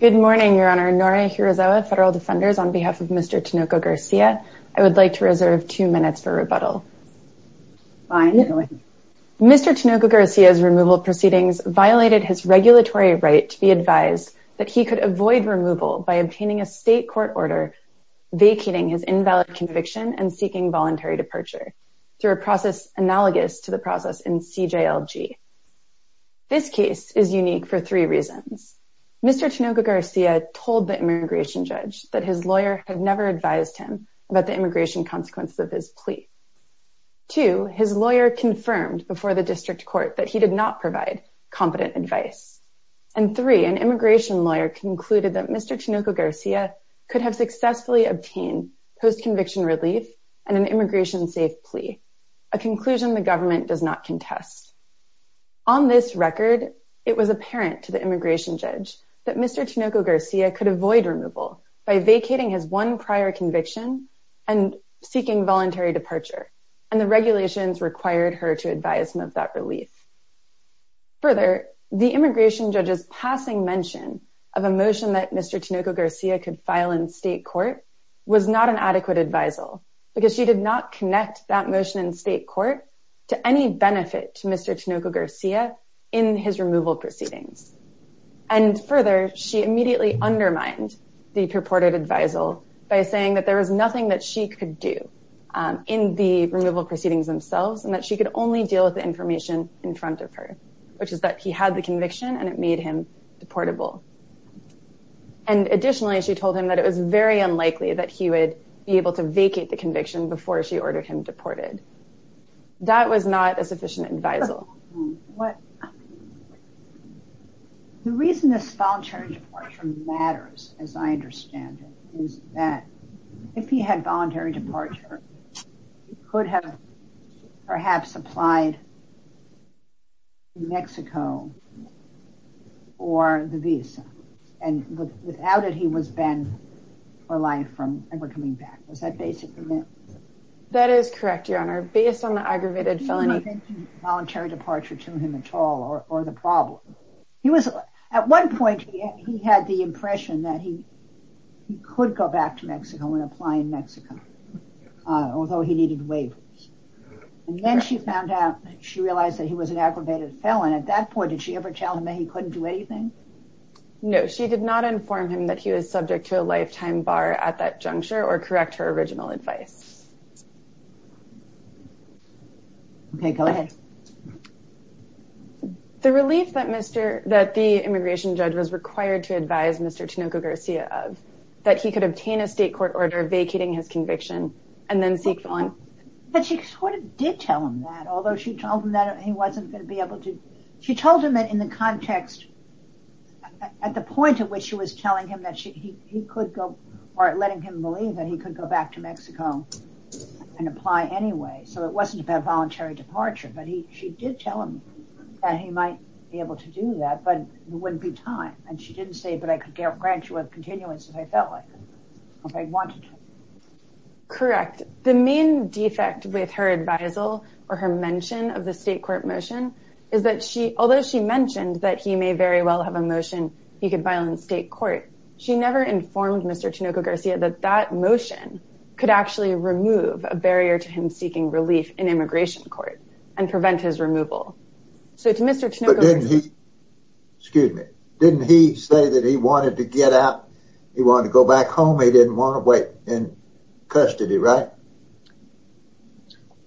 Good morning, Your Honor. Nore Hirazawa, Federal Defenders, on behalf of Mr. Tinoco-Garcia, I would like to reserve two minutes for rebuttal. Fine. Go ahead. Mr. Tinoco-Garcia's removal proceedings violated his regulatory right to be advised that he could avoid removal by obtaining a state court order vacating his invalid conviction and seeking voluntary departure through a process analogous to the process in CJLG. This case is unique for three reasons. Mr. Tinoco-Garcia told the immigration judge that his lawyer had never advised him about the immigration consequences of his plea. Two, his lawyer confirmed before the district court that he did not provide competent advice. And three, an immigration lawyer concluded that Mr. Tinoco-Garcia could have successfully obtained post-conviction relief and an immigration-safe plea, a conclusion the government does not contest. On this record, it was apparent to the immigration judge that Mr. Tinoco-Garcia could avoid removal by vacating his one prior conviction and seeking voluntary departure, and the regulations required her to advise him of that relief. Further, the immigration judge's passing mention of a motion that Mr. Tinoco-Garcia could file in state court was not an adequate advisal because she did not connect that motion in Mr. Tinoco-Garcia in his removal proceedings. And further, she immediately undermined the purported advisal by saying that there was nothing that she could do in the removal proceedings themselves and that she could only deal with the information in front of her, which is that he had the conviction and it made him deportable. And additionally, she told him that it was very unlikely that he would be able to vacate the conviction before she ordered him deported. That was not a sufficient advisal. The reason this voluntary departure matters, as I understand it, is that if he had voluntary departure, he could have perhaps applied to Mexico or the visa, and without it, he was banned for life from ever coming back. Is that basically it? That is correct, Your Honor. Based on the aggravated felony... You didn't mention voluntary departure to him at all or the problem. He was, at one point, he had the impression that he could go back to Mexico and apply in Mexico, although he needed waivers. And then she found out, she realized that he was an aggravated felon. At that point, did she ever tell him that he couldn't do anything? No, she did not inform him that he was subject to a lifetime bar at that juncture or correct her original advice. Okay, go ahead. The relief that the immigration judge was required to advise Mr. Tinoco-Garcia of, that he could obtain a state court order vacating his conviction and then seek... But she sort of did tell him that, although she told him that he wasn't going to be able to... She told him that in the context, at the point at which she was telling him that he could go back to Mexico and apply anyway. So it wasn't about voluntary departure, but she did tell him that he might be able to do that, but it wouldn't be time. And she didn't say, but I could grant you a continuance if I felt like it, if I wanted to. Correct. The main defect with her advisal or her mention of the state court motion is that she, although she mentioned that he may very well have a motion he could file in state court, she never informed Mr. Tinoco-Garcia that that motion could actually remove a barrier to him seeking relief in immigration court and prevent his removal. So to Mr. Tinoco-Garcia... But didn't he... Excuse me. Didn't he say that he wanted to get out, he wanted to go back home, he didn't want to wait in custody, right?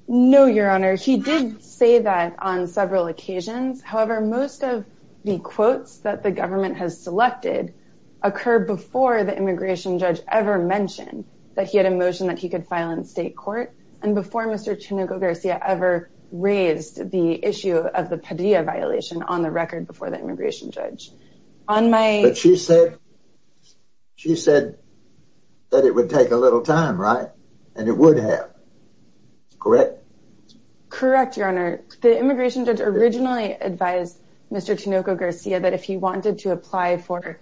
No, Your Honor. He did say that on several occasions. However, most of the quotes that the government has selected occur before the immigration judge ever mentioned that he had a motion that he could file in state court and before Mr. Tinoco-Garcia ever raised the issue of the Padilla violation on the record before the immigration judge. But she said that it would take a little time, right? Correct? Correct, Your Honor. The immigration judge originally advised Mr. Tinoco-Garcia that if he wanted to apply for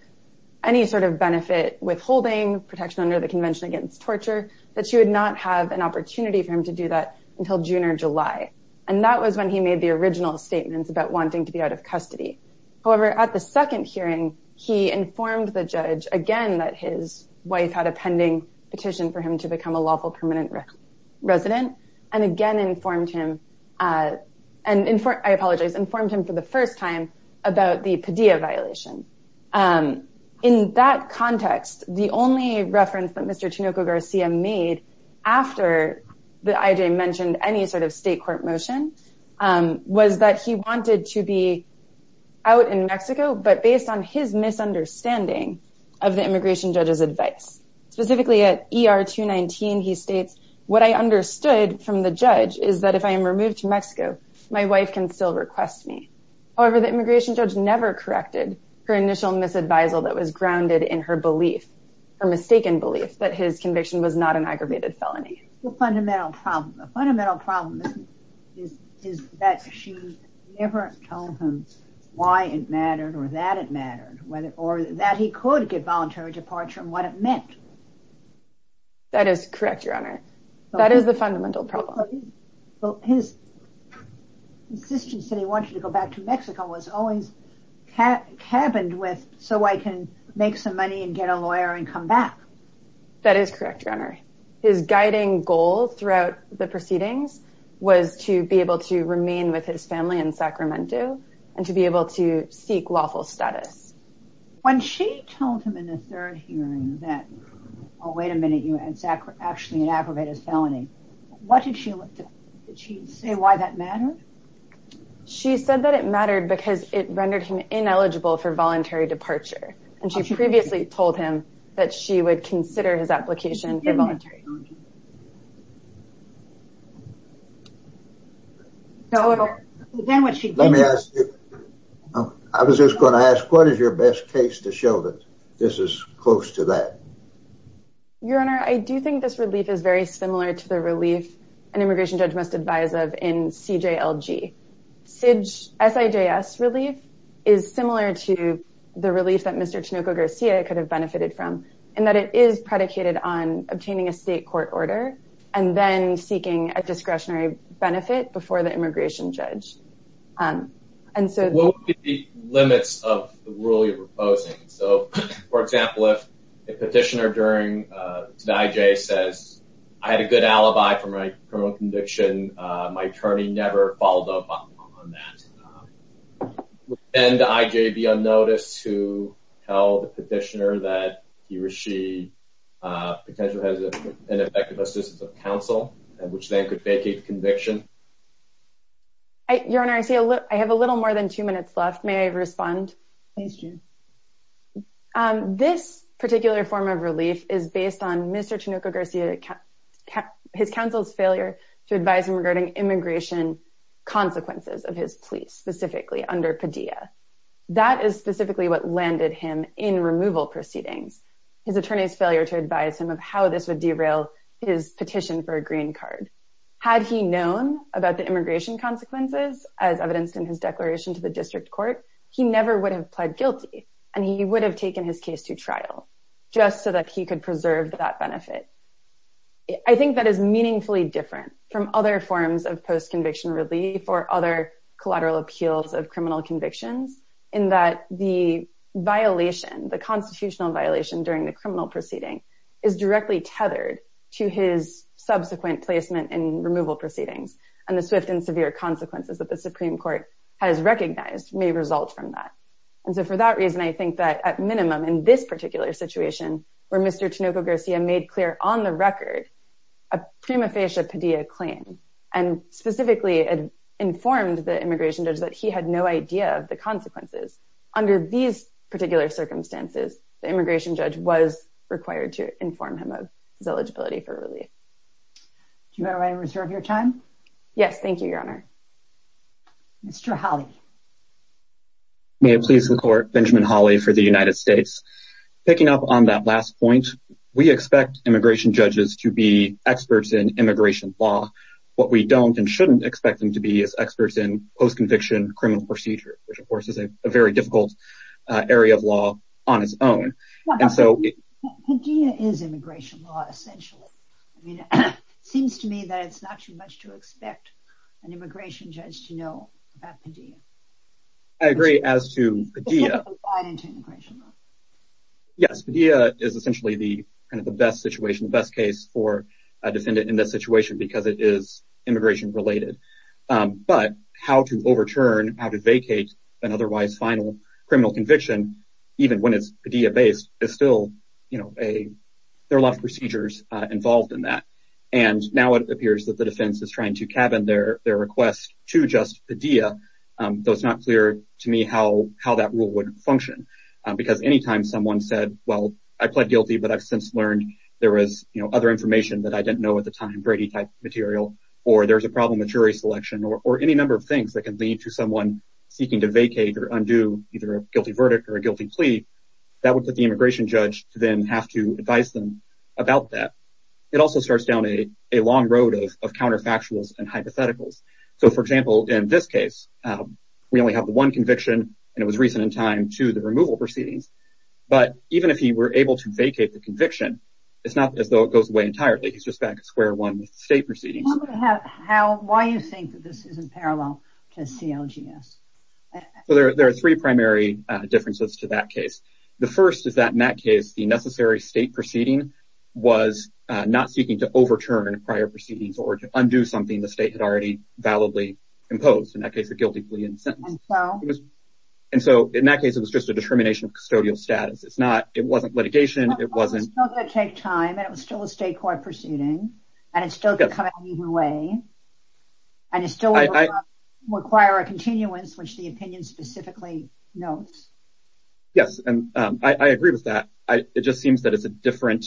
any sort of benefit withholding protection under the Convention Against Torture, that she would not have an opportunity for him to do that until June or July. And that was when he made the original statements about wanting to be out of custody. However, at the second hearing, he informed the judge again that his wife had a pending petition for him to become a lawful permanent resident, and again informed him, and I apologize, informed him for the first time about the Padilla violation. In that context, the only reference that Mr. Tinoco-Garcia made after the IJ mentioned any sort of state court motion was that he wanted to be out in Mexico, but based on his testimony at ER 219, he states, What I understood from the judge is that if I am removed to Mexico, my wife can still request me. However, the immigration judge never corrected her initial misadvisal that was grounded in her belief, her mistaken belief, that his conviction was not an aggravated felony. The fundamental problem, the fundamental problem is that she never told him why it mattered or that it mattered or that he could get voluntary departure and what it meant. That is correct, Your Honor. That is the fundamental problem. Well, his insistence that he wanted to go back to Mexico was always cabined with, so I can make some money and get a lawyer and come back. That is correct, Your Honor. His guiding goal throughout the proceedings was to be able to remain with his family in Sacramento and to be able to seek lawful status. When she told him in the third hearing that, oh, wait a minute, it is actually an aggravated felony, what did she say why that mattered? She said that it mattered because it rendered him ineligible for voluntary departure, and she previously told him that she would consider his application for voluntary departure. Let me ask you, I was just going to ask, what is your best case to show that this is close to that? Your Honor, I do think this relief is very similar to the relief an immigration judge must advise of in CJLG. SIJS relief is similar to the relief that Mr. Chinoco Garcia could have benefited from in that it is predicated on obtaining a state court order and then seeking a discretionary benefit before the immigration judge. What would be the limits of the rule you're proposing? So, for example, if a petitioner during the IJ says, I had a good alibi for my criminal conviction, my attorney never followed up on that. Would the IJ be unnoticed to tell the petitioner that he or she potentially has an effective assistance of counsel, which then could vacate the conviction? Your Honor, I have a little more than two minutes left. May I respond? Please do. This particular form of relief is based on Mr. Chinoco Garcia, his counsel's failure to advise him regarding immigration consequences of his plea, specifically under Padilla. That is specifically what landed him in removal proceedings, his attorney's failure to advise him of how this would derail his petition for a green card. Had he known about the immigration consequences as evidenced in his declaration to the district court, he never would have pled guilty and he would have taken his case to trial just so that he could preserve that benefit. I think that is meaningfully different from other forms of post-conviction relief or other collateral appeals of criminal convictions in that the violation, the constitutional violation during the criminal proceeding, is directly tethered to his subsequent placement in removal proceedings. And the swift and severe consequences that the Supreme Court has recognized may result from that. And so for that reason, I think that at minimum in this particular situation, where Mr. Chinoco Garcia made clear on the record a prima facie Padilla claim and specifically informed the immigration judge that he had no idea of the consequences, under these particular circumstances, the immigration judge was required to inform him of his eligibility for relief. Do you mind if I reserve your time? Yes, thank you, Your Honor. Mr. Hawley. May it please the court, Benjamin Hawley for the United States. Picking up on that last point, we expect immigration judges to be experts in immigration law. What we don't and shouldn't expect them to be is experts in post-conviction criminal procedures, which of course is a very difficult area of law on its own. Padilla is immigration law essentially. It seems to me that it's not too much to expect an immigration judge to know about Padilla. I agree as to Padilla. Yes, Padilla is essentially the best case for a defendant in this situation because it is immigration related. But how to overturn, how to vacate an otherwise final criminal conviction, even when it's Padilla-based, there are a lot of procedures involved in that. Now it appears that the defense is trying to cabin their request to just Padilla, though it's not clear to me how that rule would function. Anytime someone said, well, I pled guilty, but I've since learned there was other information that I didn't know at the time, Brady-type material, or there's a problem with jury selection, or any number of things that can lead to someone seeking to vacate or undo either a guilty verdict or a guilty plea, that would put the immigration judge to then have to advise them about that. It also starts down a long road of counterfactuals and hypotheticals. So, for example, in this case, we only have one conviction, and it was recent in time to the removal proceedings. But even if he were able to vacate the conviction, it's not as though it goes away entirely. He's just back at square one with state proceedings. Why do you think that this isn't parallel to CLGS? There are three primary differences to that case. The first is that, in that case, the necessary state proceeding was not seeking to overturn prior proceedings or to undo something the state had already validly imposed, in that case, a guilty plea and sentence. And so, in that case, it was just a determination of custodial status. It wasn't litigation. It was still going to take time, and it was still a state court proceeding, and it's still going to come at an even way, and it's still going to require a continuance, which the opinion specifically notes. Yes, and I agree with that. It just seems that it's a different,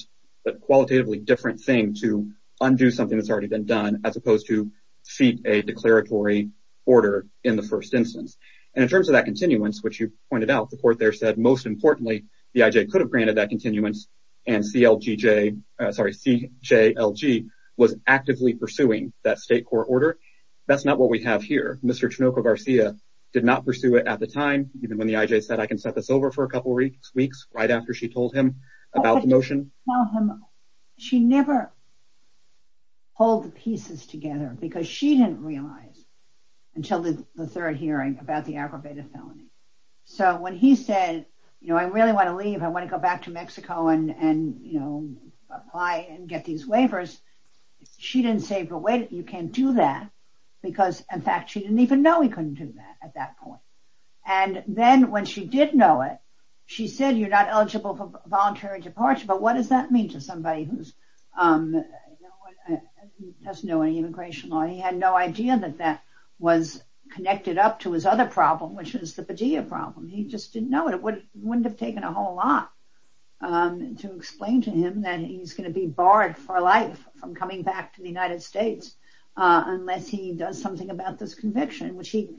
qualitatively different thing to undo something that's already been done as opposed to seek a declaratory order in the first instance. And in terms of that continuance, which you pointed out, the court there said, most importantly, the IJ could have granted that continuance, and CLG was actively pursuing that state court order. That's not what we have here. Mr. Chinoco-Garcia did not pursue it at the time, even when the IJ said, I can set this over for a couple weeks, right after she told him about the motion. She never pulled the pieces together because she didn't realize until the third hearing about the aggravated felony. So when he said, you know, I really want to leave. I want to go back to Mexico and, you know, apply and get these waivers. She didn't say, but wait, you can't do that because, in fact, she didn't even know he couldn't do that at that point. And then when she did know it, she said, you're not eligible for voluntary departure. But what does that mean to somebody who doesn't know any immigration law? He had no idea that that was connected up to his other problem, which is the Padilla problem. He just didn't know it. It wouldn't have taken a whole lot to explain to him that he's going to be barred for life from coming back to the United States unless he does something about this conviction, which he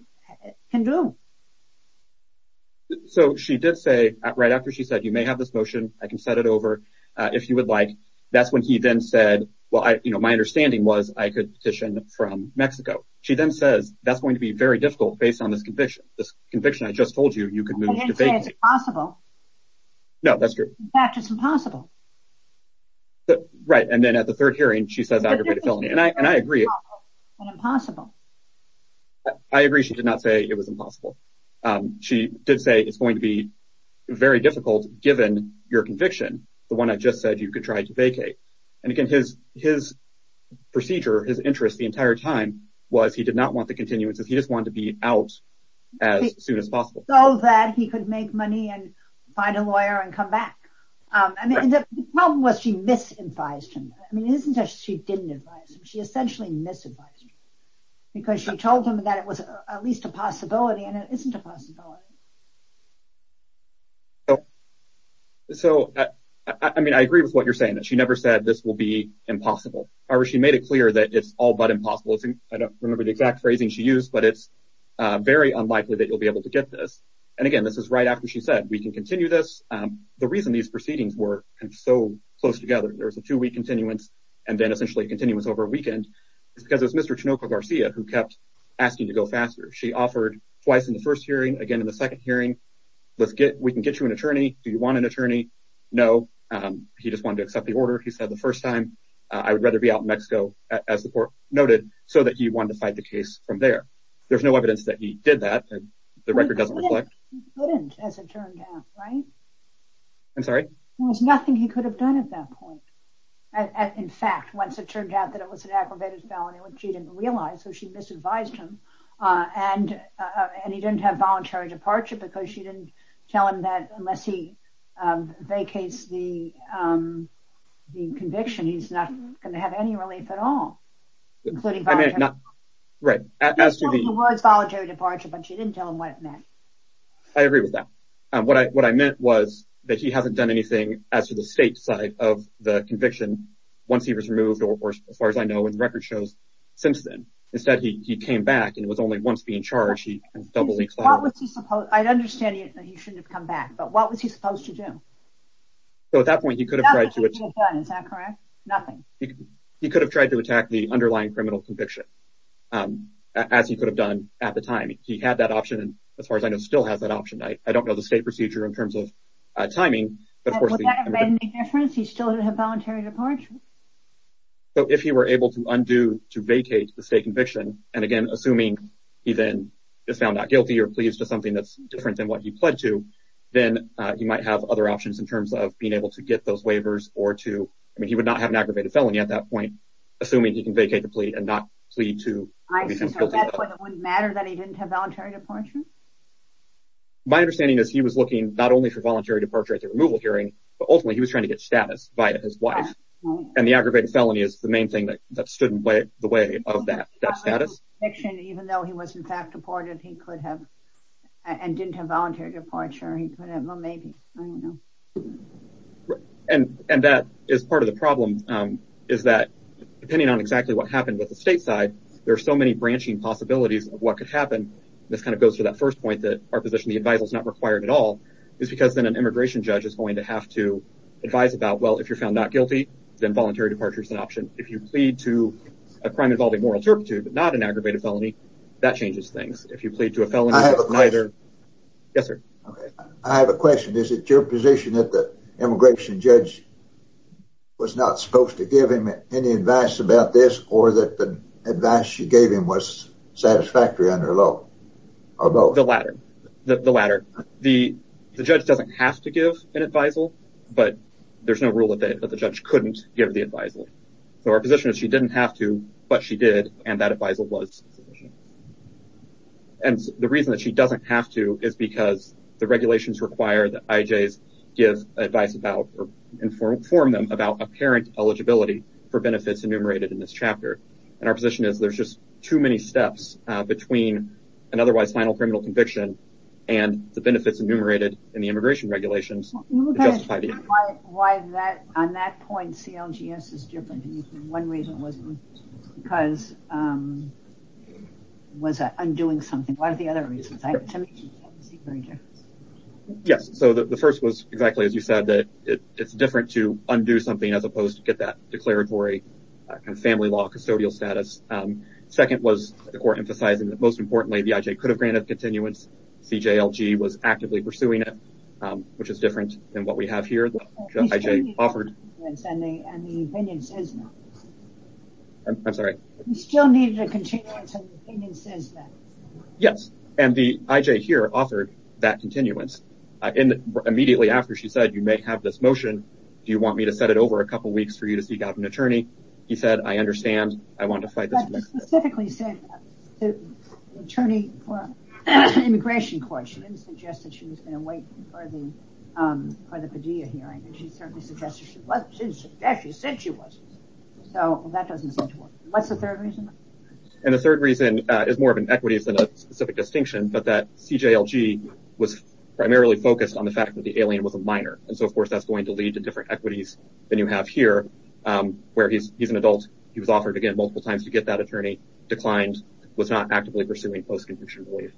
can do. So she did say right after she said, you may have this motion. I can set it over if you would like. That's when he then said, well, you know, my understanding was I could petition from Mexico. She then says that's going to be very difficult based on this conviction. This conviction, I just told you, you can move. It's possible. No, that's true. It's impossible. Right. And then at the third hearing, she says aggravated felony. And I agree. It's impossible. I agree. She did not say it was impossible. She did say it's going to be very difficult, given your conviction. The one I just said, you could try to vacate. And again, his his procedure, his interest the entire time was he did not want the continuance. He just wanted to be out as soon as possible so that he could make money and find a lawyer and come back. And the problem was she misadvised him. I mean, isn't that she didn't advise him. She essentially misadvised him because she told him that it was at least a possibility and it isn't a possibility. So, I mean, I agree with what you're saying that she never said this will be impossible. However, she made it clear that it's all but impossible. I don't remember the exact phrasing she used, but it's very unlikely that you'll be able to get this. And again, this is right after she said we can continue this. The reason these proceedings were so close together. There was a two week continuance and then essentially continuance over a weekend. It's because it's Mr. Chinoco Garcia who kept asking to go faster. She offered twice in the first hearing, again in the second hearing. Let's get we can get you an attorney. Do you want an attorney? No. He just wanted to accept the order. He said the first time I would rather be out in Mexico, as the court noted, so that he wanted to fight the case from there. There's no evidence that he did that. The record doesn't reflect. But as it turned out, right. I'm sorry. There was nothing he could have done at that point. In fact, once it turned out that it was an aggravated felony, which he didn't realize. So she misadvised him and he didn't have voluntary departure because she didn't tell him that unless he vacates the conviction, he's not going to have any relief at all. Right. As the words voluntary departure, but she didn't tell him what it meant. I agree with that. What I what I meant was that he hasn't done anything as to the state side of the conviction once he was removed. Or as far as I know, in the record shows since then, instead, he came back and was only once being charged. He was doubly. I understand that he shouldn't have come back, but what was he supposed to do? So at that point, he could have tried to. Is that correct? Nothing. He could have tried to attack the underlying criminal conviction, as he could have done at the time. He had that option. And as far as I know, still has that option. I don't know the state procedure in terms of timing. But of course, he still had a voluntary departure. So if he were able to undo to vacate the state conviction and again, assuming he then found out guilty or pleased to something that's different than what he pled to, then you might have other options in terms of being able to get those waivers or to. I mean, he would not have an aggravated felony at that point, assuming he can vacate the plea and not plead to. It wouldn't matter that he didn't have voluntary departure. My understanding is he was looking not only for voluntary departure at the removal hearing, but ultimately he was trying to get status by his wife. And the aggravated felony is the main thing that stood in the way of that status. Even though he was, in fact, deported, he could have and didn't have voluntary departure. And that is part of the problem is that depending on exactly what happened with the state side, there are so many branching possibilities of what could happen. This kind of goes to that first point that our position, the adviser is not required at all. It's because then an immigration judge is going to have to advise about, well, if you're found not guilty, then voluntary departure is an option. If you plead to a crime involving moral turpitude, not an aggravated felony, that changes things. If you plead to a felony, neither. Yes, sir. I have a question. Is it your position that the immigration judge was not supposed to give him any advice about this or that the advice she gave him was satisfactory under law? The latter. The judge doesn't have to give an advisal, but there's no rule that the judge couldn't give the advisal. So our position is she didn't have to, but she did. And that advisal was sufficient. And the reason that she doesn't have to is because the regulations require that IJs give advice about or inform them about apparent eligibility for benefits enumerated in this chapter. And our position is there's just too many steps between an otherwise final criminal conviction and the benefits enumerated in the immigration regulations to justify the action. On that point, CLGS is different. One reason was because it was undoing something. What are the other reasons? Yes. So the first was exactly as you said, that it's different to undo something as opposed to get that declared for a family law custodial status. Second was the court emphasizing that most importantly, the IJ could have granted continuance. CJLG was actively pursuing it, which is different than what we have here. Yes. And the IJ here offered that continuance immediately after she said, you may have this motion. Do you want me to set it over a couple of weeks for you to seek out an attorney? And the third reason is more of an equity than a specific distinction, but that CJLG was primarily focused on the fact that the alien was a minor. And so, of course, that's going to lead to different equities than you have here, where he's he's an adult. He was offered again multiple times to get that attorney declined, was not actively pursuing post-conviction relief.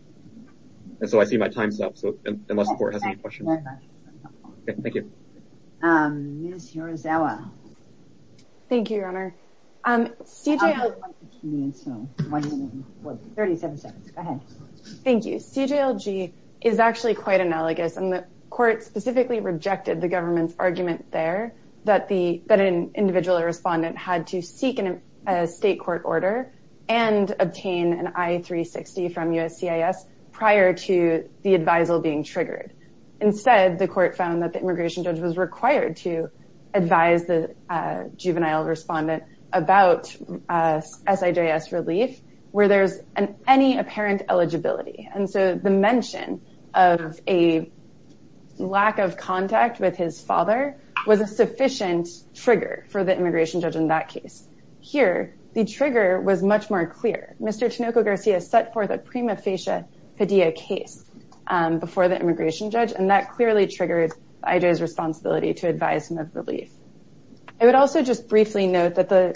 And so I see my time's up. So unless the court has any questions. Thank you. Thank you, Your Honor. CJLG is actually quite analogous. And the court specifically rejected the government's argument there that an individual or respondent had to seek a state court order and obtain an I360 from USCIS prior to the advisal being triggered. Instead, the court found that the immigration judge was required to advise the juvenile respondent about SJS relief where there's any apparent eligibility. And so the mention of a lack of contact with his father was a sufficient trigger for the immigration judge in that case. Here, the trigger was much more clear. Mr. Tinoco-Garcia set forth a prima facie Padilla case before the immigration judge, and that clearly triggered IJ's responsibility to advise him of relief. I would also just briefly note that the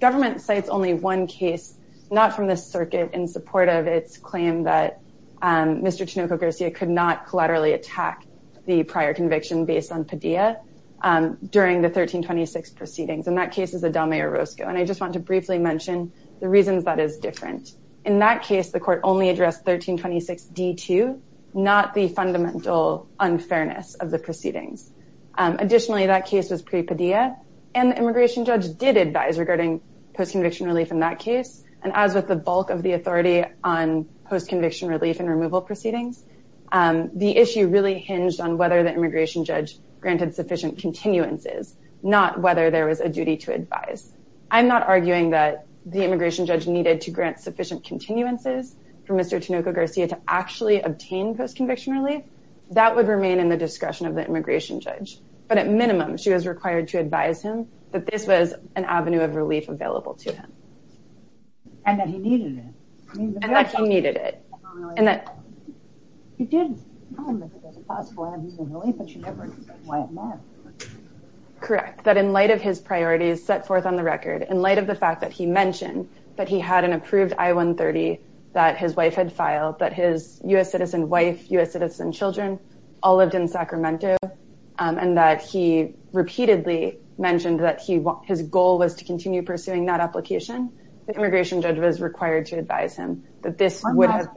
government cites only one case, not from the circuit, in support of its claim that Mr. Tinoco-Garcia could not collaterally attack the prior conviction based on Padilla during the 1326 proceedings. And that case is Adame Orozco. And I just want to briefly mention the reasons that is different. In that case, the court only addressed 1326D2, not the fundamental unfairness of the proceedings. Additionally, that case was pre-Padilla, and the immigration judge did advise regarding post-conviction relief in that case. And as with the bulk of the authority on post-conviction relief and removal proceedings, the issue really hinged on whether the immigration judge granted sufficient continuances, not whether there was a duty to advise. I'm not arguing that the immigration judge needed to grant sufficient continuances for Mr. Tinoco-Garcia to actually obtain post-conviction relief. That would remain in the discretion of the immigration judge. But at minimum, she was required to advise him that this was an avenue of relief available to him. And that he needed it. And that he needed it. Correct. That in light of his priorities set forth on the record, in light of the fact that he mentioned that he had an approved I-130 that his wife had filed, that his U.S. citizen wife, U.S. citizen children all lived in Sacramento, and that he repeatedly mentioned that his goal was to continue pursuing that application, the immigration judge was required to advise him that this would have...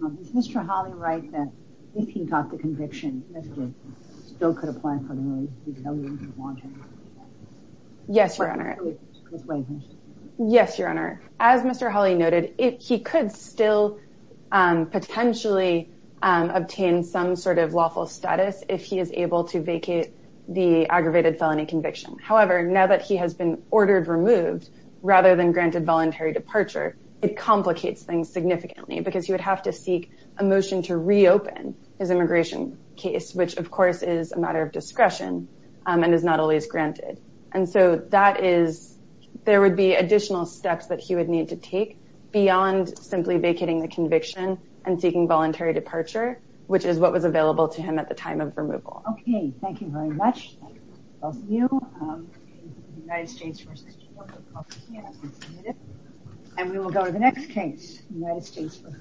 One last question. Is Mr. Hawley right that if he got the conviction, Mr. Tinoco-Garcia still could apply for the relief? Yes, Your Honor. Yes, Your Honor. As Mr. Hawley noted, he could still potentially obtain some sort of lawful status if he is able to vacate the aggravated felony conviction. However, now that he has been ordered removed, rather than granted voluntary departure, it complicates things significantly. Because he would have to seek a motion to reopen his immigration case, which of course is a matter of discretion and is not always granted. And so that is... there would be additional steps that he would need to take beyond simply vacating the conviction and seeking voluntary departure, which is what was available to him at the time of removal. Okay. Thank you very much, both of you. United States v. Tinoco-Garcia has been submitted. And we will go to the next case, United States v. Garcia.